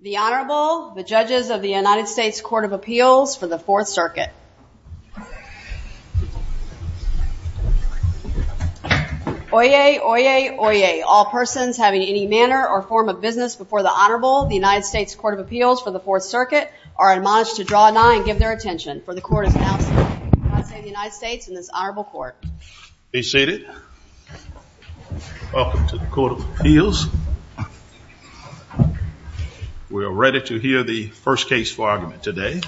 The Honorable, the judges of the United States Court of Appeals for the Fourth Circuit. Oyez, oyez, oyez, all persons having any manner or form of business before the Honorable, the United States Court of Appeals for the Fourth Circuit, are admonished to draw a nine and give their attention, for the court has announced the passing of the United States in this honorable court. Be seated. Welcome to the Court of Appeals. We are ready to hear the first case for argument today.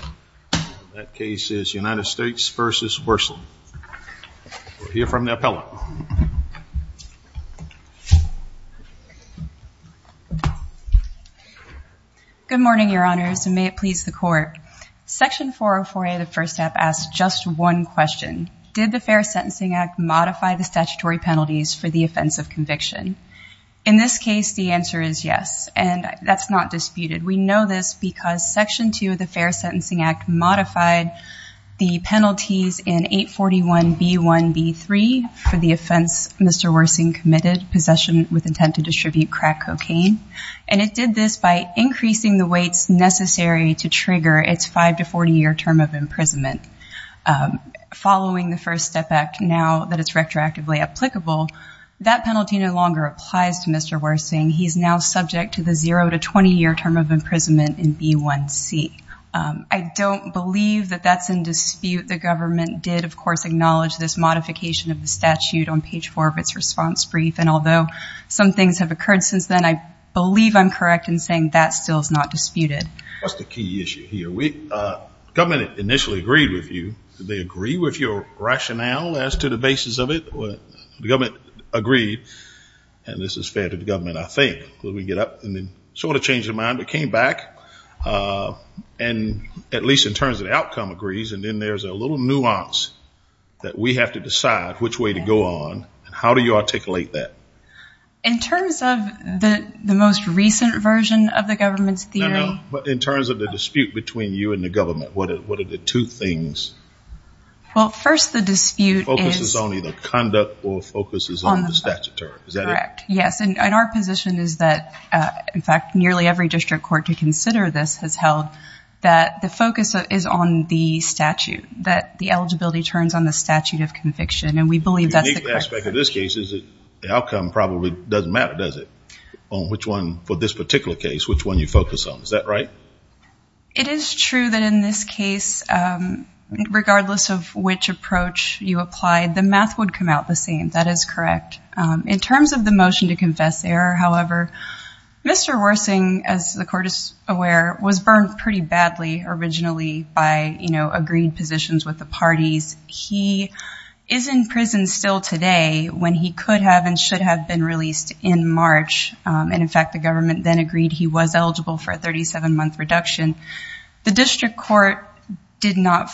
That case is United States v. Wirsing. We'll hear from the appellant. Good morning, your honors, and may it please the court. Section 404A, the first step, asks just one question. Did the Fair Sentencing Act modify the statutory penalties for the offense of conviction? In this case, the answer is yes, and that's not disputed. We know this because Section 2 of the Fair Sentencing Act modified the penalties in 841B1B3 for the offense Mr. Wirsing committed, possession with intent to distribute crack cocaine, and it did this by increasing the weights necessary to trigger its five to 40 year term of imprisonment. Following the First Step Act now that it's retroactively applicable, that penalty no longer applies to Mr. Wirsing. He's now subject to the zero to 20 year term of imprisonment in B1C. I don't believe that that's in dispute. The government did, of course, acknowledge this modification of the statute on page four of its response brief, and although some things have occurred since then, I believe I'm correct in saying that still is not disputed. That's the key issue here. The government initially agreed with you. Did they agree with your rationale as to the basis of it? The government agreed, and this is fair to the government, I think. We get up and then sort of changed our mind, but came back, and at least in terms of the outcome agrees, and then there's a little nuance that we have to decide which way to go on, and how do you articulate that? In terms of the most recent version of the government's theory? No, no, no. In terms of the dispute between you and the government, what are the two things? Well, first the dispute is- Focuses on either conduct or focuses on the statutory. Is that it? Correct. Yes, and our position is that, in fact, nearly every district court to consider this has held that the focus is on the statute, that the eligibility turns on the statute of conviction, and we believe that's the correct position. The outcome probably doesn't matter, does it, on which one, for this particular case, which one you focus on? Is that right? It is true that in this case, regardless of which approach you applied, the math would come out the same. That is correct. In terms of the motion to confess error, however, Mr. Worsing, as the court is aware, was burned pretty badly originally by agreed positions with the parties. He is in prison still today when he could have and should have been released in March, and, in fact, the government then agreed he was eligible for a 37-month reduction. The district court did not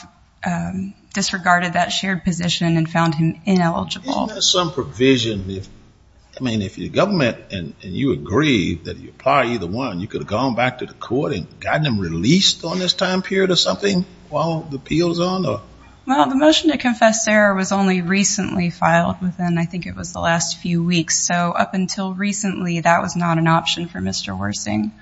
disregard that shared position and found him ineligible. Isn't there some provision? I mean, if your government and you agree that you apply either one, you could have gone back to the court and gotten him released on this time period or something while the appeal is on? Well, the motion to confess error was only recently filed within, I think, it was the last few weeks. So up until recently, that was not an option for Mr. Worsing.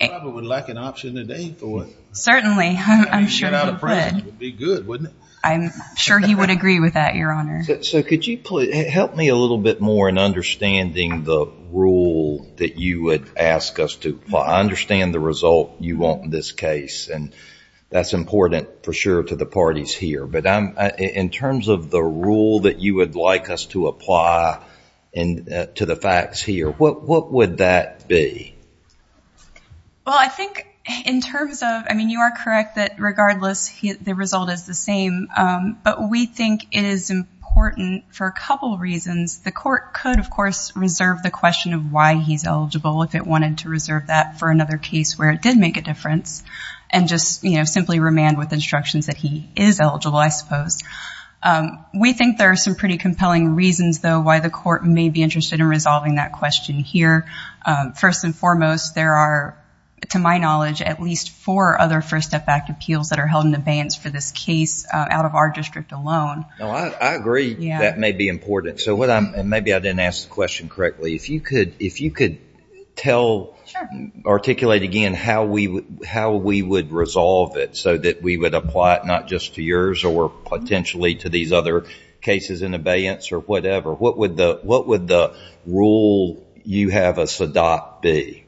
He probably would lack an option today for it. I'm sure he would. If he got out of prison, it would be good, wouldn't it? I'm sure he would agree with that, Your Honor. So could you help me a little bit more in understanding the rule that you would ask us to apply? I understand the result you want in this case, and that's important, for sure, to the parties here. But in terms of the rule that you would like us to apply to the facts here, what would that be? Well, I think in terms of, I mean, you are correct that, regardless, the result is the same. But we think it is important for a couple of reasons. The court could, of course, reserve the question of why he's eligible if it wanted to reserve that for another case where it did make a difference and just simply remand with instructions that he is eligible, I suppose. We think there are some pretty compelling reasons, though, why the court may be interested in resolving that question here. First and foremost, there are, to my knowledge, at least four other First Step Act appeals that are held in abeyance for this case out of our district alone. I agree that may be important. Maybe I didn't ask the question correctly. If you could tell, articulate again, how we would resolve it so that we would apply it not just to yours or potentially to these other cases in abeyance or whatever, what would the rule you have us adopt be?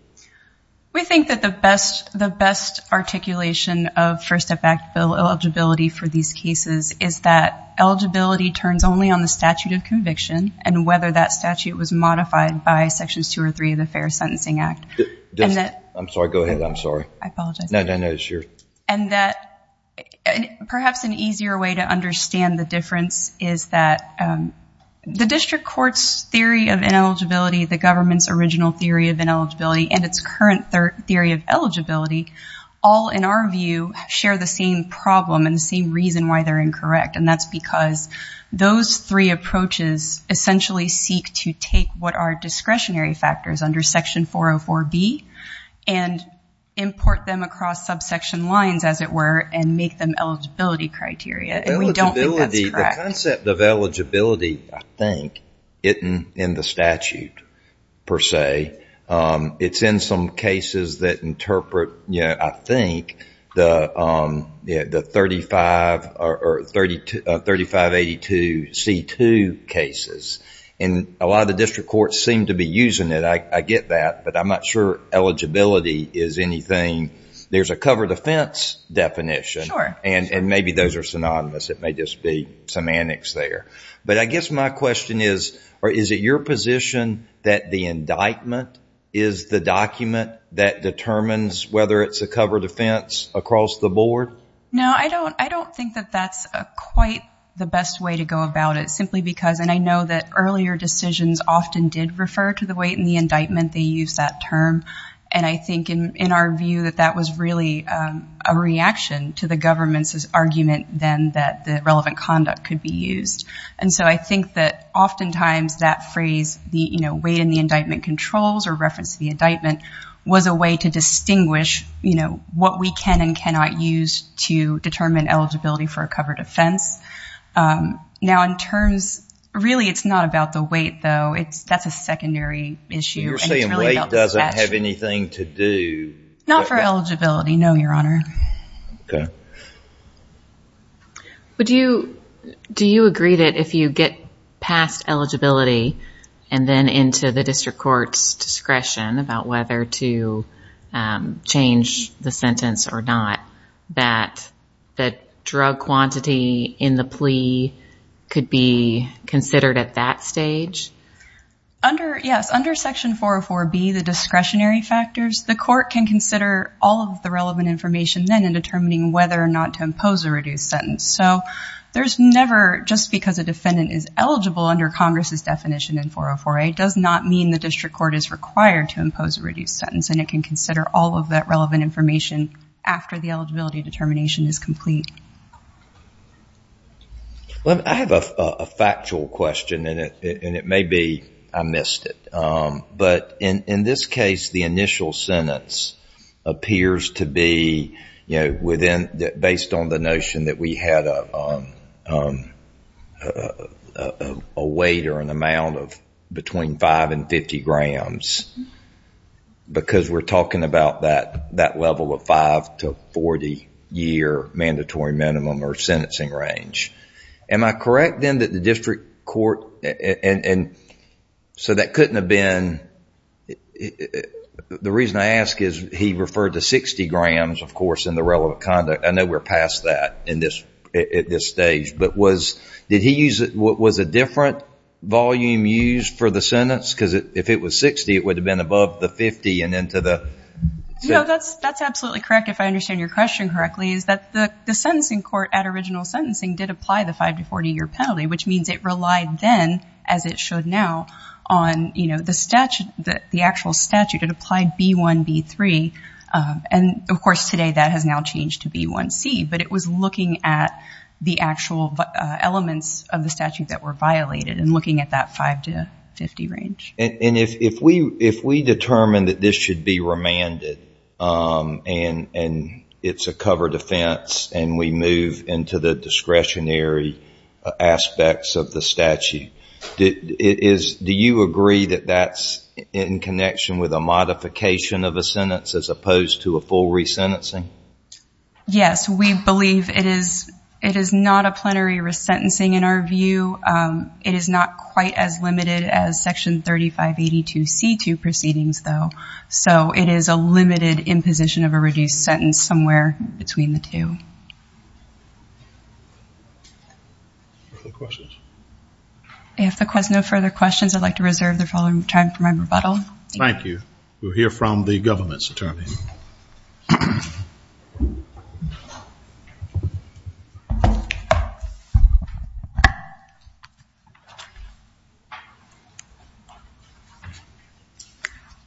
We think that the best articulation of First Step Act bill eligibility for these cases is that eligibility turns only on the statute of conviction and whether that statute was modified by Sections 2 or 3 of the Fair Sentencing Act. I'm sorry. Go ahead. I'm sorry. I apologize. No, no, no. It's your... Perhaps an easier way to understand the difference is that the district court's theory of ineligibility, the government's original theory of ineligibility, and its current theory of eligibility, all, in our view, share the same problem and the same reason why they're incorrect. That's because those three approaches essentially seek to take what are discretionary factors under Section 404B and import them across subsection lines, as it were, and make them eligibility criteria. And we don't think that's correct. The concept of eligibility, I think, isn't in the statute, per se. It's in some cases that interpret, I think, the 3582C2 cases. And a lot of the district courts seem to be using it. I get that. But I'm not sure eligibility is anything. There's a cover defense definition. Sure. And maybe those are synonymous. It may just be semantics there. But I guess my question is, is it your position that the indictment is the document that determines whether it's a cover defense across the board? No, I don't think that that's quite the best way to go about it simply because, and I know that earlier decisions often did refer to the weight in the indictment. They used that term. And I think, in our view, that that was really a reaction to the government's argument then that the relevant conduct could be used. And so I think that oftentimes that phrase, the weight in the indictment controls or reference to the indictment, was a way to distinguish what we can and cannot use to determine eligibility for a cover defense. Now, in terms, really it's not about the weight, though. That's a secondary issue. You're saying weight doesn't have anything to do. Not for eligibility, no, Your Honor. Okay. Do you agree that if you get past eligibility and then into the district court's discretion about whether to change the sentence or not, that the drug quantity in the plea could be considered at that stage? Yes, under Section 404B, the discretionary factors, the court can consider all of the relevant information then in determining whether or not to impose a reduced sentence. So there's never, just because a defendant is eligible under Congress's definition in 404A, does not mean the district court is required to impose a reduced sentence, and it can consider all of that relevant information after the eligibility determination is complete. Well, I have a factual question, and it may be I missed it. But in this case, the initial sentence appears to be, you know, based on the notion that we had a weight or an amount of between 5 and 50 grams, because we're talking about that level of 5 to 40 year mandatory minimum or sentencing range. Am I correct then that the district court, and so that couldn't have been, the reason I ask is he referred to 60 grams, of course, in the relevant conduct. I know we're past that at this stage. But was, did he use, was a different volume used for the sentence? Because if it was 60, it would have been above the 50 and into the- No, that's absolutely correct, if I understand your question correctly, is that the sentencing court at original sentencing did apply the 5 to 40 year penalty, which means it relied then, as it should now, on, you know, the statute, the actual statute that applied B1, B3. And, of course, today that has now changed to B1C. But it was looking at the actual elements of the statute that were violated and looking at that 5 to 50 range. And if we determine that this should be remanded and it's a cover defense and we move into the discretionary aspects of the statute, do you agree that that's in connection with a modification of a sentence as opposed to a full resentencing? Yes, we believe it is not a plenary resentencing in our view. It is not quite as limited as Section 3582C2 proceedings, though. So it is a limited imposition of a reduced sentence somewhere between the two. Other questions? If there's no further questions, I'd like to reserve the following time for my rebuttal. Thank you. We'll hear from the government's attorney.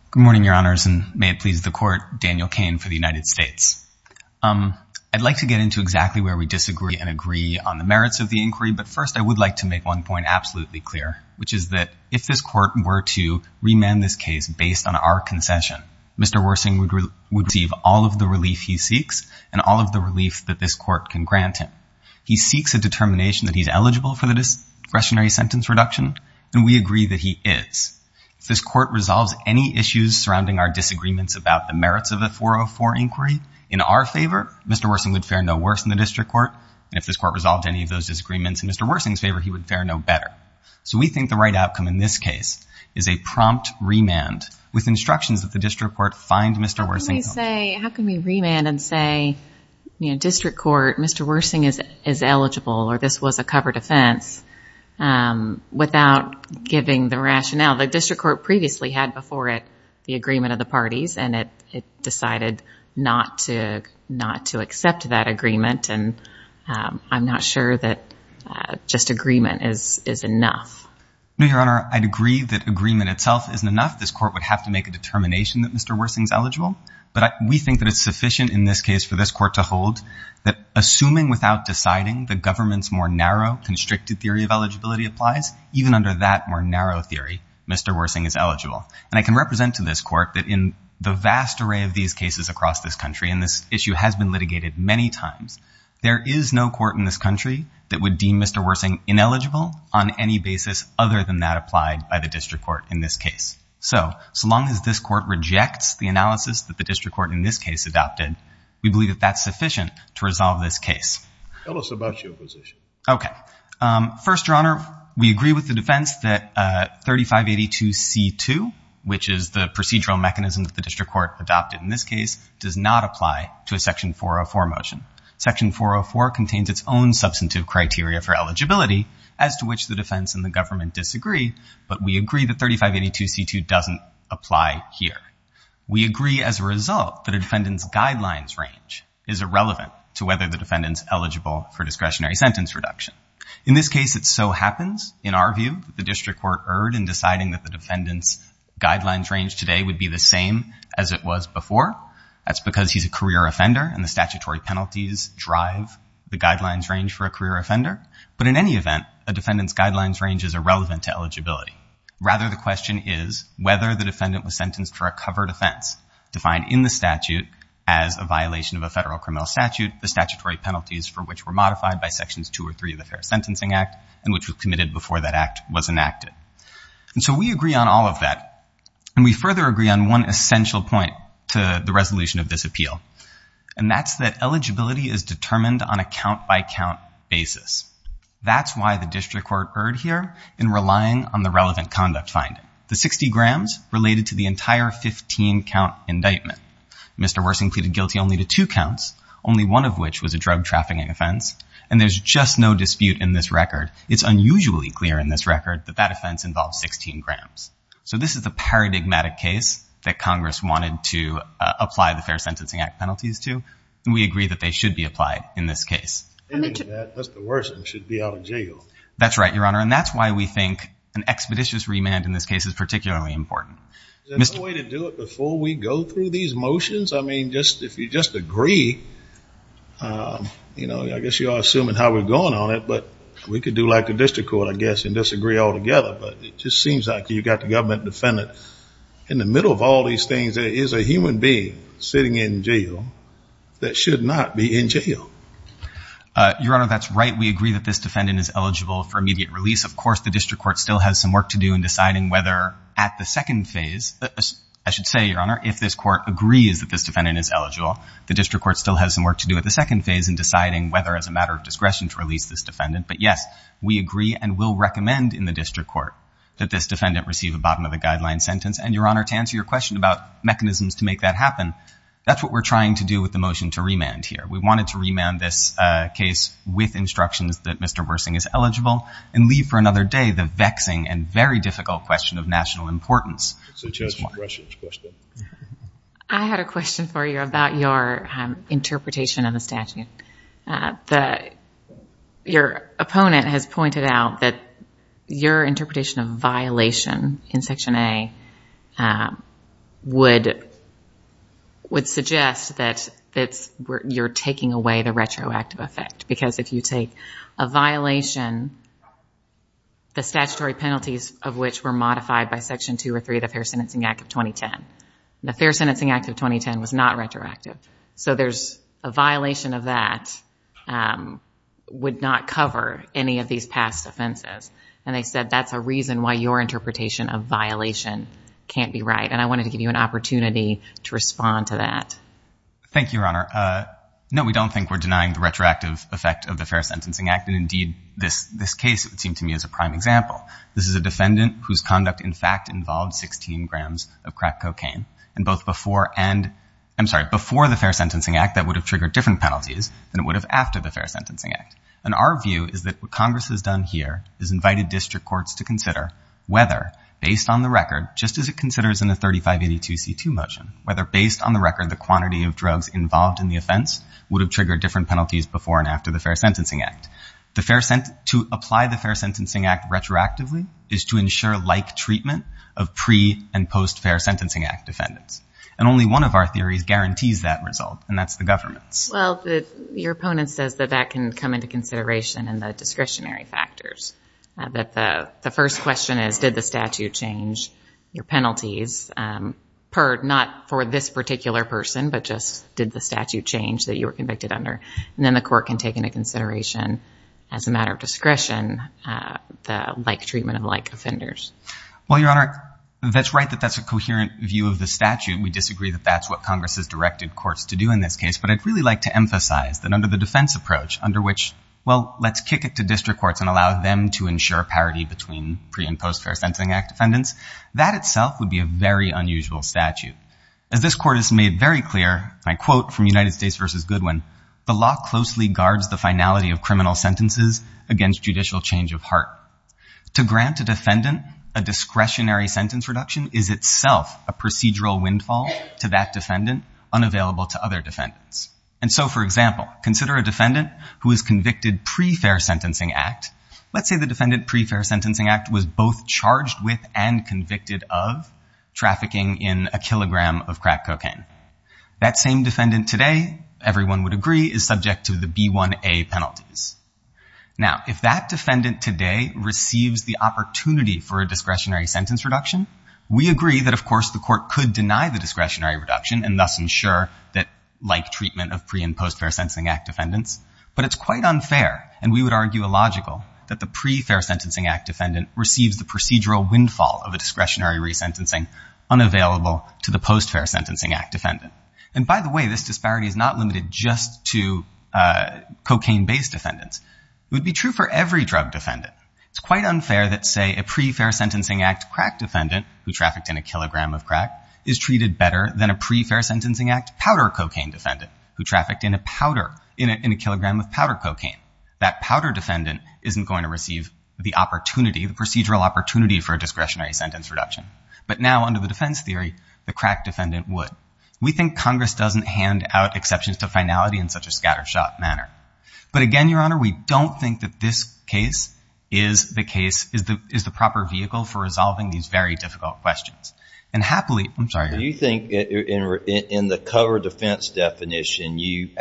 Good morning, Your Honors, and may it please the Court. Daniel Cain for the United States. I'd like to get into exactly where we disagree and agree on the merits of the inquiry, but first I would like to make one point absolutely clear, which is that if this Court were to remand this case based on our concession, Mr. Worsing would receive all of the relief he seeks and all of the relief that this Court can grant him. He seeks a determination that he's eligible for the discretionary sentence reduction, and we agree that he is. If this Court resolves any issues surrounding our disagreements about the merits of the 404 inquiry in our favor, Mr. Worsing would fare no worse in the district court, and if this Court resolved any of those disagreements in Mr. Worsing's favor, he would fare no better. So we think the right outcome in this case is a prompt remand with instructions that the district court find Mr. Worsing guilty. How can we remand and say, you know, district court, Mr. Worsing is eligible, or this was a covered offense, without giving the rationale? The district court previously had before it the agreement of the parties, and it decided not to accept that agreement, and I'm not sure that just agreement is enough. No, Your Honor, I'd agree that agreement itself isn't enough. But we think that it's sufficient in this case for this Court to hold that assuming without deciding the government's more narrow, constricted theory of eligibility applies, even under that more narrow theory, Mr. Worsing is eligible. And I can represent to this Court that in the vast array of these cases across this country, and this issue has been litigated many times, there is no court in this country that would deem Mr. Worsing ineligible on any basis other than that applied by the district court in this case. So, so long as this Court rejects the analysis that the district court in this case adopted, we believe that that's sufficient to resolve this case. Tell us about your position. Okay. First, Your Honor, we agree with the defense that 3582c2, which is the procedural mechanism that the district court adopted in this case, does not apply to a section 404 motion. Section 404 contains its own substantive criteria for eligibility, as to which the defense and the government disagree, but we agree that 3582c2 doesn't apply here. We agree as a result that a defendant's guidelines range is irrelevant to whether the defendant's eligible for discretionary sentence reduction. In this case, it so happens, in our view, that the district court erred in deciding that the defendant's guidelines range today would be the same as it was before. That's because he's a career offender, and the statutory penalties drive the guidelines range for a career offender. But in any event, a defendant's guidelines range is irrelevant to eligibility. Rather, the question is whether the defendant was sentenced for a covered offense, defined in the statute as a violation of a federal criminal statute, the statutory penalties for which were modified by Sections 2 or 3 of the Fair Sentencing Act, and which was committed before that act was enacted. And so we agree on all of that, and we further agree on one essential point to the resolution of this appeal, and that's that eligibility is determined on a count-by-count basis. That's why the district court erred here in relying on the relevant conduct finding, the 60 grams related to the entire 15-count indictment. Mr. Wersing pleaded guilty only to two counts, only one of which was a drug trafficking offense, and there's just no dispute in this record. It's unusually clear in this record that that offense involves 16 grams. So this is the paradigmatic case that Congress wanted to apply the Fair Sentencing Act penalties to, and we agree that they should be applied in this case. And that Mr. Wersing should be out of jail. That's right, Your Honor, and that's why we think an expeditious remand in this case is particularly important. Is there no way to do it before we go through these motions? I mean, if you just agree, you know, I guess you are assuming how we're going on it, but we could do like the district court, I guess, and disagree altogether. But it just seems like you've got the government defendant in the middle of all these things that is a human being sitting in jail that should not be in jail. Your Honor, that's right. We agree that this defendant is eligible for immediate release. Of course, the district court still has some work to do in deciding whether at the second phase, I should say, Your Honor, if this court agrees that this defendant is eligible, the district court still has some work to do at the second phase in deciding whether as a matter of discretion to release this defendant. But, yes, we agree and will recommend in the district court that this defendant receive a bottom of the guideline sentence. And, Your Honor, to answer your question about mechanisms to make that happen, that's what we're trying to do with the motion to remand here. We wanted to remand this case with instructions that Mr. Wersing is eligible and leave for another day the vexing and very difficult question of national importance. I had a question for you about your interpretation of the statute. Your opponent has pointed out that your interpretation of violation in Section A would suggest that you're taking away the retroactive effect. Because if you take a violation, the statutory penalties of which were modified by Section 2 or 3 of the Fair Sentencing Act of 2010. The Fair Sentencing Act of 2010 was not retroactive. So there's a violation of that would not cover any of these past offenses. And they said that's a reason why your interpretation of violation can't be right. And I wanted to give you an opportunity to respond to that. Thank you, Your Honor. No, we don't think we're denying the retroactive effect of the Fair Sentencing Act. And, indeed, this case would seem to me as a prime example. This is a defendant whose conduct, in fact, involved 16 grams of crack cocaine. And both before the Fair Sentencing Act, that would have triggered different penalties than it would have after the Fair Sentencing Act. And our view is that what Congress has done here is invited district courts to consider whether, based on the record, just as it considers in the 3582C2 motion, whether based on the record the quantity of drugs involved in the offense would have triggered different penalties before and after the Fair Sentencing Act. To apply the Fair Sentencing Act retroactively is to ensure like treatment of pre- and post-Fair Sentencing Act defendants. And only one of our theories guarantees that result, and that's the government's. Well, your opponent says that that can come into consideration in the discretionary factors. That the first question is, did the statute change your penalties, not for this particular person, but just did the statute change that you were convicted under? And then the court can take into consideration, as a matter of discretion, the like treatment of like offenders. Well, your Honor, that's right that that's a coherent view of the statute. We disagree that that's what Congress has directed courts to do in this case. But I'd really like to emphasize that under the defense approach, under which, well, let's kick it to district courts and allow them to ensure parity between pre- and post-Fair Sentencing Act defendants, that itself would be a very unusual statute. As this court has made very clear, and I quote from United States v. Goodwin, the law closely guards the finality of criminal sentences against judicial change of heart. To grant a defendant a discretionary sentence reduction is itself a procedural windfall to that defendant, unavailable to other defendants. And so, for example, consider a defendant who is convicted pre-Fair Sentencing Act. Let's say the defendant pre-Fair Sentencing Act was both charged with and convicted of trafficking in a kilogram of crack cocaine. That same defendant today, everyone would agree, is subject to the B1A penalties. Now, if that defendant today receives the opportunity for a discretionary sentence reduction, we agree that, of course, the court could deny the discretionary reduction and thus ensure that like treatment of pre- and post-Fair Sentencing Act defendants. But it's quite unfair, and we would argue illogical, that the pre-Fair Sentencing Act defendant receives the procedural windfall of a discretionary resentencing unavailable to the post-Fair Sentencing Act defendant. And by the way, this disparity is not limited just to cocaine-based defendants. It would be true for every drug defendant. It's quite unfair that, say, a pre-Fair Sentencing Act crack defendant who trafficked in a kilogram of crack is treated better than a pre-Fair Sentencing Act powder cocaine defendant who trafficked in a kilogram of powder cocaine. That powder defendant isn't going to receive the opportunity, the procedural opportunity for a discretionary sentence reduction. But now, under the defense theory, the crack defendant would. We think Congress doesn't hand out exceptions to finality in such a scattershot manner. But again, Your Honor, we don't think that this case is the case, is the proper vehicle for resolving these very difficult questions. And happily, I'm sorry. Do you think in the covered defense definition, the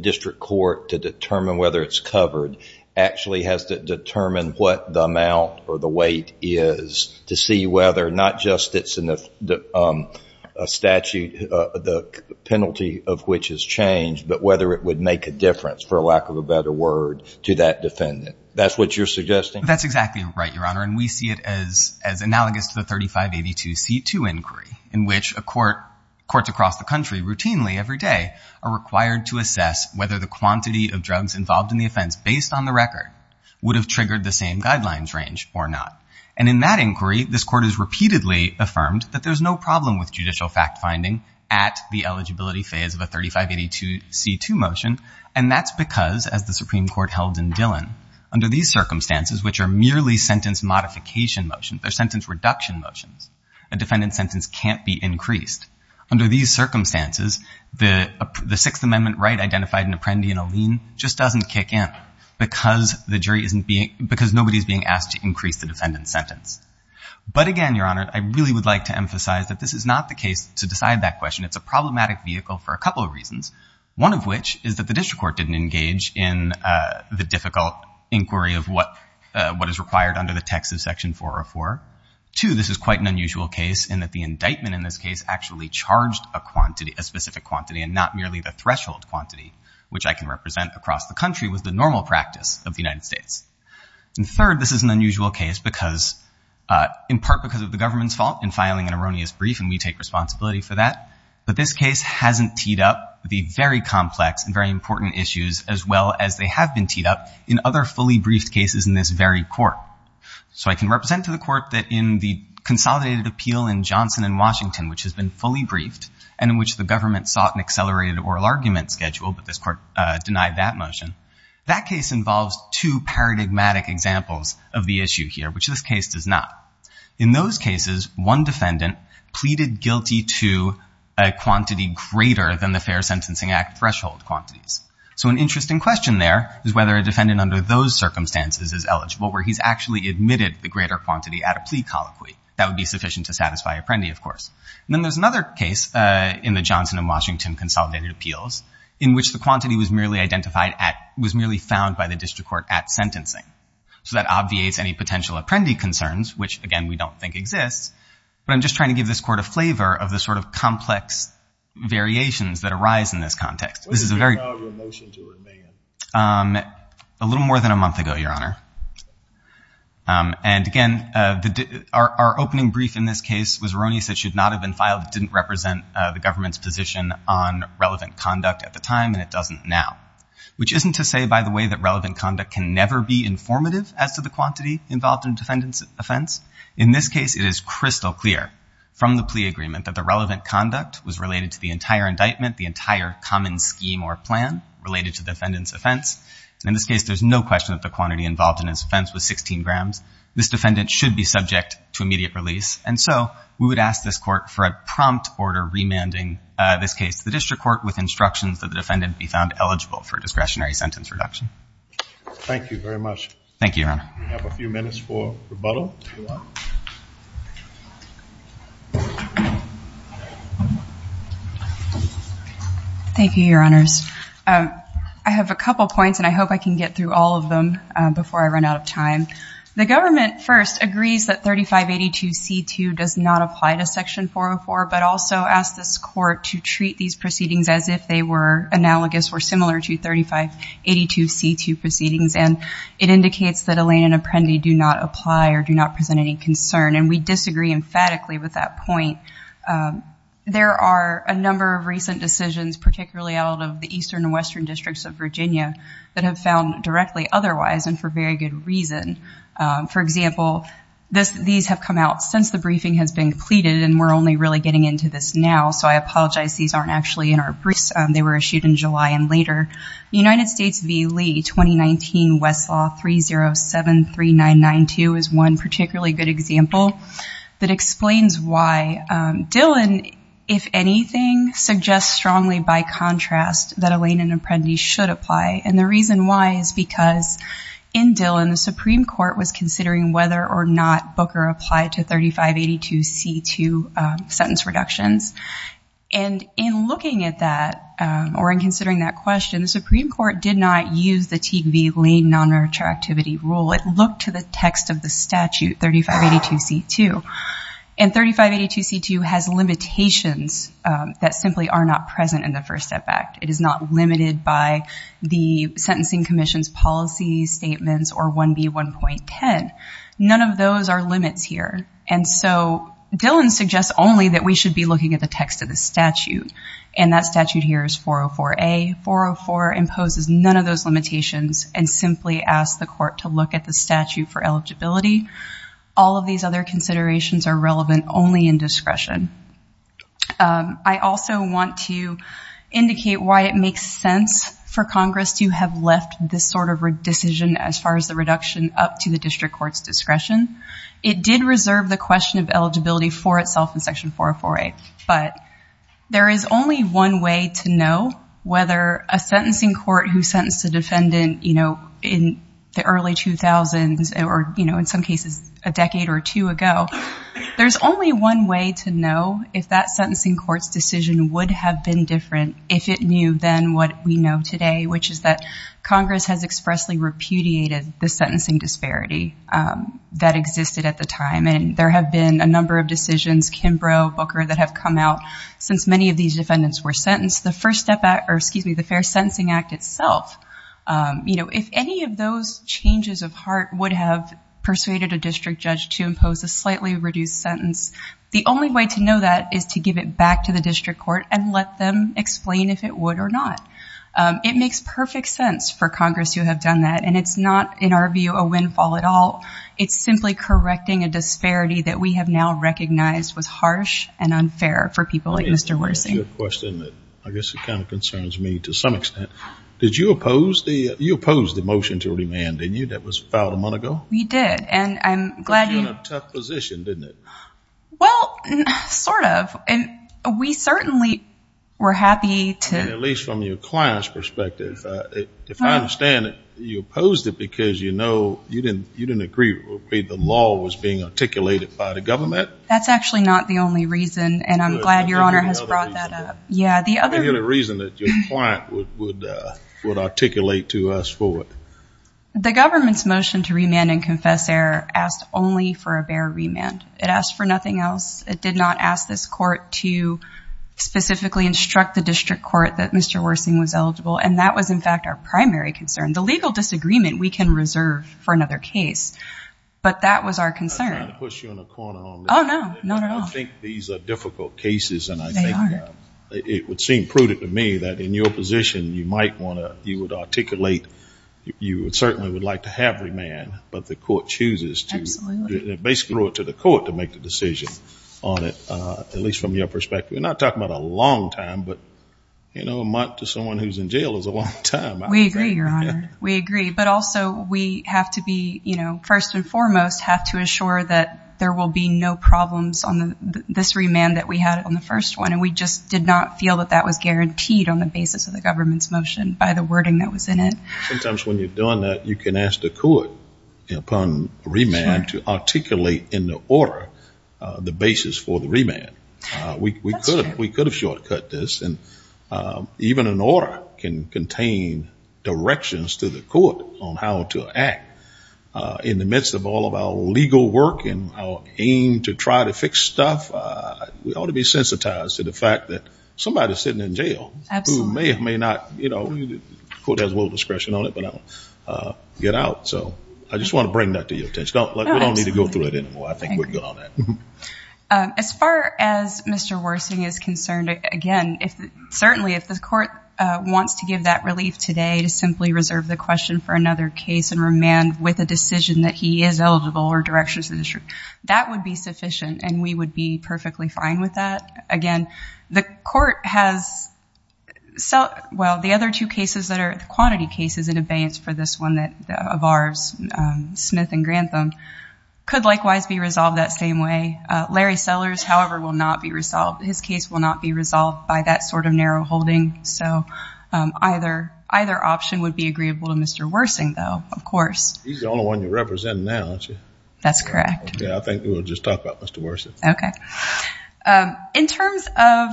district court, to determine whether it's covered, actually has to determine what the amount or the weight is to see whether not just it's a statute, the penalty of which is changed, but whether it would make a difference, for lack of a better word, to that defendant? That's what you're suggesting? That's exactly right, Your Honor. And we see it as analogous to the 3582C2 inquiry, whether the quantity of drugs involved in the offense, based on the record, would have triggered the same guidelines range or not. And in that inquiry, this court has repeatedly affirmed that there's no problem with judicial fact-finding at the eligibility phase of a 3582C2 motion. And that's because, as the Supreme Court held in Dillon, under these circumstances, which are merely sentence modification motions, they're sentence reduction motions, a defendant's sentence can't be increased. Under these circumstances, the Sixth Amendment right identified in Apprendi and Alleen just doesn't kick in because nobody's being asked to increase the defendant's sentence. But again, Your Honor, I really would like to emphasize that this is not the case to decide that question. It's a problematic vehicle for a couple of reasons, one of which is that the district court didn't engage in the difficult inquiry of what is required under the text of Section 404. Two, this is quite an unusual case in that the indictment in this case actually charged a quantity, a specific quantity, and not merely the threshold quantity, which I can represent across the country with the normal practice of the United States. And third, this is an unusual case because, in part because of the government's fault in filing an erroneous brief, and we take responsibility for that. But this case hasn't teed up the very complex and very important issues as well as they have been teed up in other fully briefed cases in this very court. So I can represent to the court that in the consolidated appeal in Johnson and Washington, which has been fully briefed, and in which the government sought an accelerated oral argument schedule, but this court denied that motion, that case involves two paradigmatic examples of the issue here, which this case does not. In those cases, one defendant pleaded guilty to a quantity greater than the Fair Sentencing Act threshold quantities. So an interesting question there is whether a defendant under those circumstances is eligible, where he's actually admitted the greater quantity at a plea colloquy. That would be sufficient to satisfy Apprendi, of course. And then there's another case in the Johnson and Washington consolidated appeals in which the quantity was merely identified at, was merely found by the district court at sentencing. So that obviates any potential Apprendi concerns, which, again, we don't think exists. But I'm just trying to give this court a flavor of the sort of complex variations that arise in this context. This is a very... When was the time of your motion to remand? A little more than a month ago, Your Honor. And, again, our opening brief in this case was erroneous. It should not have been filed. It didn't represent the government's position on relevant conduct at the time, and it doesn't now. Which isn't to say, by the way, that relevant conduct can never be informative as to the quantity involved in a defendant's offense. In this case, it is crystal clear from the plea agreement that the relevant conduct was related to the entire indictment, the entire common scheme or plan related to the defendant's offense. In this case, there's no question that the quantity involved in his offense was 16 grams. This defendant should be subject to immediate release. And so we would ask this court for a prompt order remanding this case to the district court with instructions that the defendant be found eligible for a discretionary sentence reduction. Thank you very much. Thank you, Your Honor. We have a few minutes for rebuttal, if you want. Thank you, Your Honors. I have a couple points, and I hope I can get through all of them before I run out of time. The government, first, agrees that 3582C2 does not apply to Section 404, but also asks this court to treat these proceedings as if they were analogous or similar to 3582C2 proceedings, and it indicates that Elaine and Apprendi do not apply or do not present any concern. And we disagree emphatically with that point. There are a number of recent decisions, particularly out of the eastern and western districts of Virginia, that have found directly otherwise and for very good reason. For example, these have come out since the briefing has been completed, and we're only really getting into this now, so I apologize these aren't actually in our briefs. They were issued in July and later. United States v. Lee, 2019, Westlaw 3073992 is one particularly good example that explains why Dillon, if anything, suggests strongly by contrast that Elaine and Apprendi should apply, and the reason why is because in Dillon, the Supreme Court was considering whether or not Booker applied to 3582C2 sentence reductions, and in looking at that or in considering that question, the Supreme Court did not use the Teague v. Lane nonretractivity rule. It looked to the text of the statute, 3582C2, and 3582C2 has limitations that simply are not present in the First Step Act. It is not limited by the Sentencing Commission's policy statements or 1B1.10. None of those are limits here, and so Dillon suggests only that we should be looking at the text of the statute, and that statute here is 404A. 404 imposes none of those limitations and simply asks the court to look at the statute for eligibility. All of these other considerations are relevant only in discretion. I also want to indicate why it makes sense for Congress to have left this sort of decision as far as the reduction up to the district court's discretion. It did reserve the question of eligibility for itself in Section 404A, but there is only one way to know whether a sentencing court who sentenced a defendant in the early 2000s or in some cases a decade or two ago, there's only one way to know if that sentencing court's decision would have been different, if it knew then what we know today, which is that Congress has expressly repudiated the sentencing disparity that existed at the time, and there have been a number of decisions, Kimbrough, Booker, that have come out since many of these defendants were sentenced. The First Step Act, or excuse me, the Fair Sentencing Act itself, you know, if any of those changes of heart would have persuaded a district judge to impose a slightly reduced sentence, the only way to know that is to give it back to the district court and let them explain if it would or not. It makes perfect sense for Congress to have done that, and it's not, in our view, a windfall at all. It's simply correcting a disparity that we have now recognized was harsh and unfair for people like Mr. Wersing. I guess it kind of concerns me to some extent. Did you oppose the motion to remand, didn't you, that was filed a month ago? We did, and I'm glad you... It put you in a tough position, didn't it? Well, sort of. We certainly were happy to... At least from your client's perspective. If I understand it, you opposed it because you know you didn't agree with the way the law was being articulated by the government? That's actually not the only reason, and I'm glad Your Honor has brought that up. Any other reason that your client would articulate to us for it? The government's motion to remand and confess error asked only for a bare remand. It asked for nothing else. It did not ask this court to specifically instruct the district court that Mr. Wersing was eligible, and that was, in fact, our primary concern. The legal disagreement we can reserve for another case, but that was our concern. I'm trying to push you in a corner on this. Oh, no, not at all. I think these are difficult cases, and I think it would seem prudent to me that in your position, you might want to... You would articulate... You certainly would like to have remand, but the court chooses to... Basically, it's up to the court to make the decision on it, at least from your perspective. We're not talking about a long time, but a month to someone who's in jail is a long time. We agree, Your Honor. We agree. But also, we have to be... First and foremost, have to ensure that there will be no problems on this remand that we had on the first one, and we just did not feel that that was guaranteed on the basis of the government's motion by the wording that was in it. Sometimes when you're doing that, you can ask the court upon remand to articulate in the order the basis for the remand. That's true. We could have shortcut this, and even an order can contain directions to the court on how to act. In the midst of all of our legal work and our aim to try to fix stuff, we ought to be sensitized to the fact that somebody is sitting in jail who may or may not... The court has a little discretion on it, but I don't get out, so I just want to bring that to your attention. We don't need to go through it anymore. As far as Mr. Worsing is concerned, again, certainly if the court wants to give that relief today to simply reserve the question for another case and remand with a decision that he is eligible or directions to the district, that would be sufficient, and we would be perfectly fine with that. Again, the court has... Well, the other two cases that are quantity cases in abeyance for this one of ours, Smith and Grantham, could likewise be resolved that same way. Larry Sellers, however, will not be resolved. His case will not be resolved by that sort of narrow holding, so either option would be agreeable to Mr. Worsing, though. Of course. He's the only one you're representing now, aren't you? That's correct. Okay, I think we'll just talk about Mr. Worsing. Okay. In terms of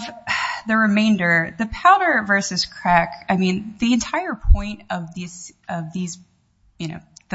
the remainder, the powder versus crack, I mean, the entire point of the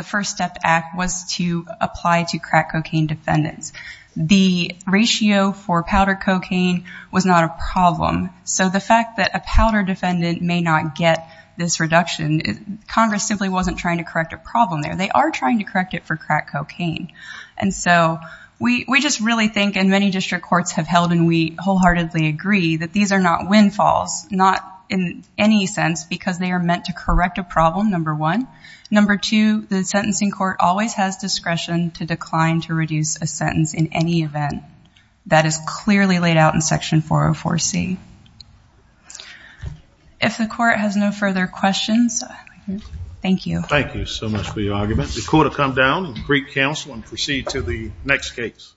First Step Act was to apply to crack cocaine defendants. The ratio for powder cocaine was not a problem, so the fact that a powder defendant may not get this reduction, Congress simply wasn't trying to correct a problem there. They are trying to correct it for crack cocaine. And so we just really think, and many district courts have held and we wholeheartedly agree, that these are not windfalls, not in any sense because they are meant to correct a problem, number one. Number two, the sentencing court always has discretion to decline to reduce a sentence in any event. That is clearly laid out in Section 404C. If the court has no further questions, thank you. Thank you so much for your argument. The court will come down and greet counsel and proceed to the next case.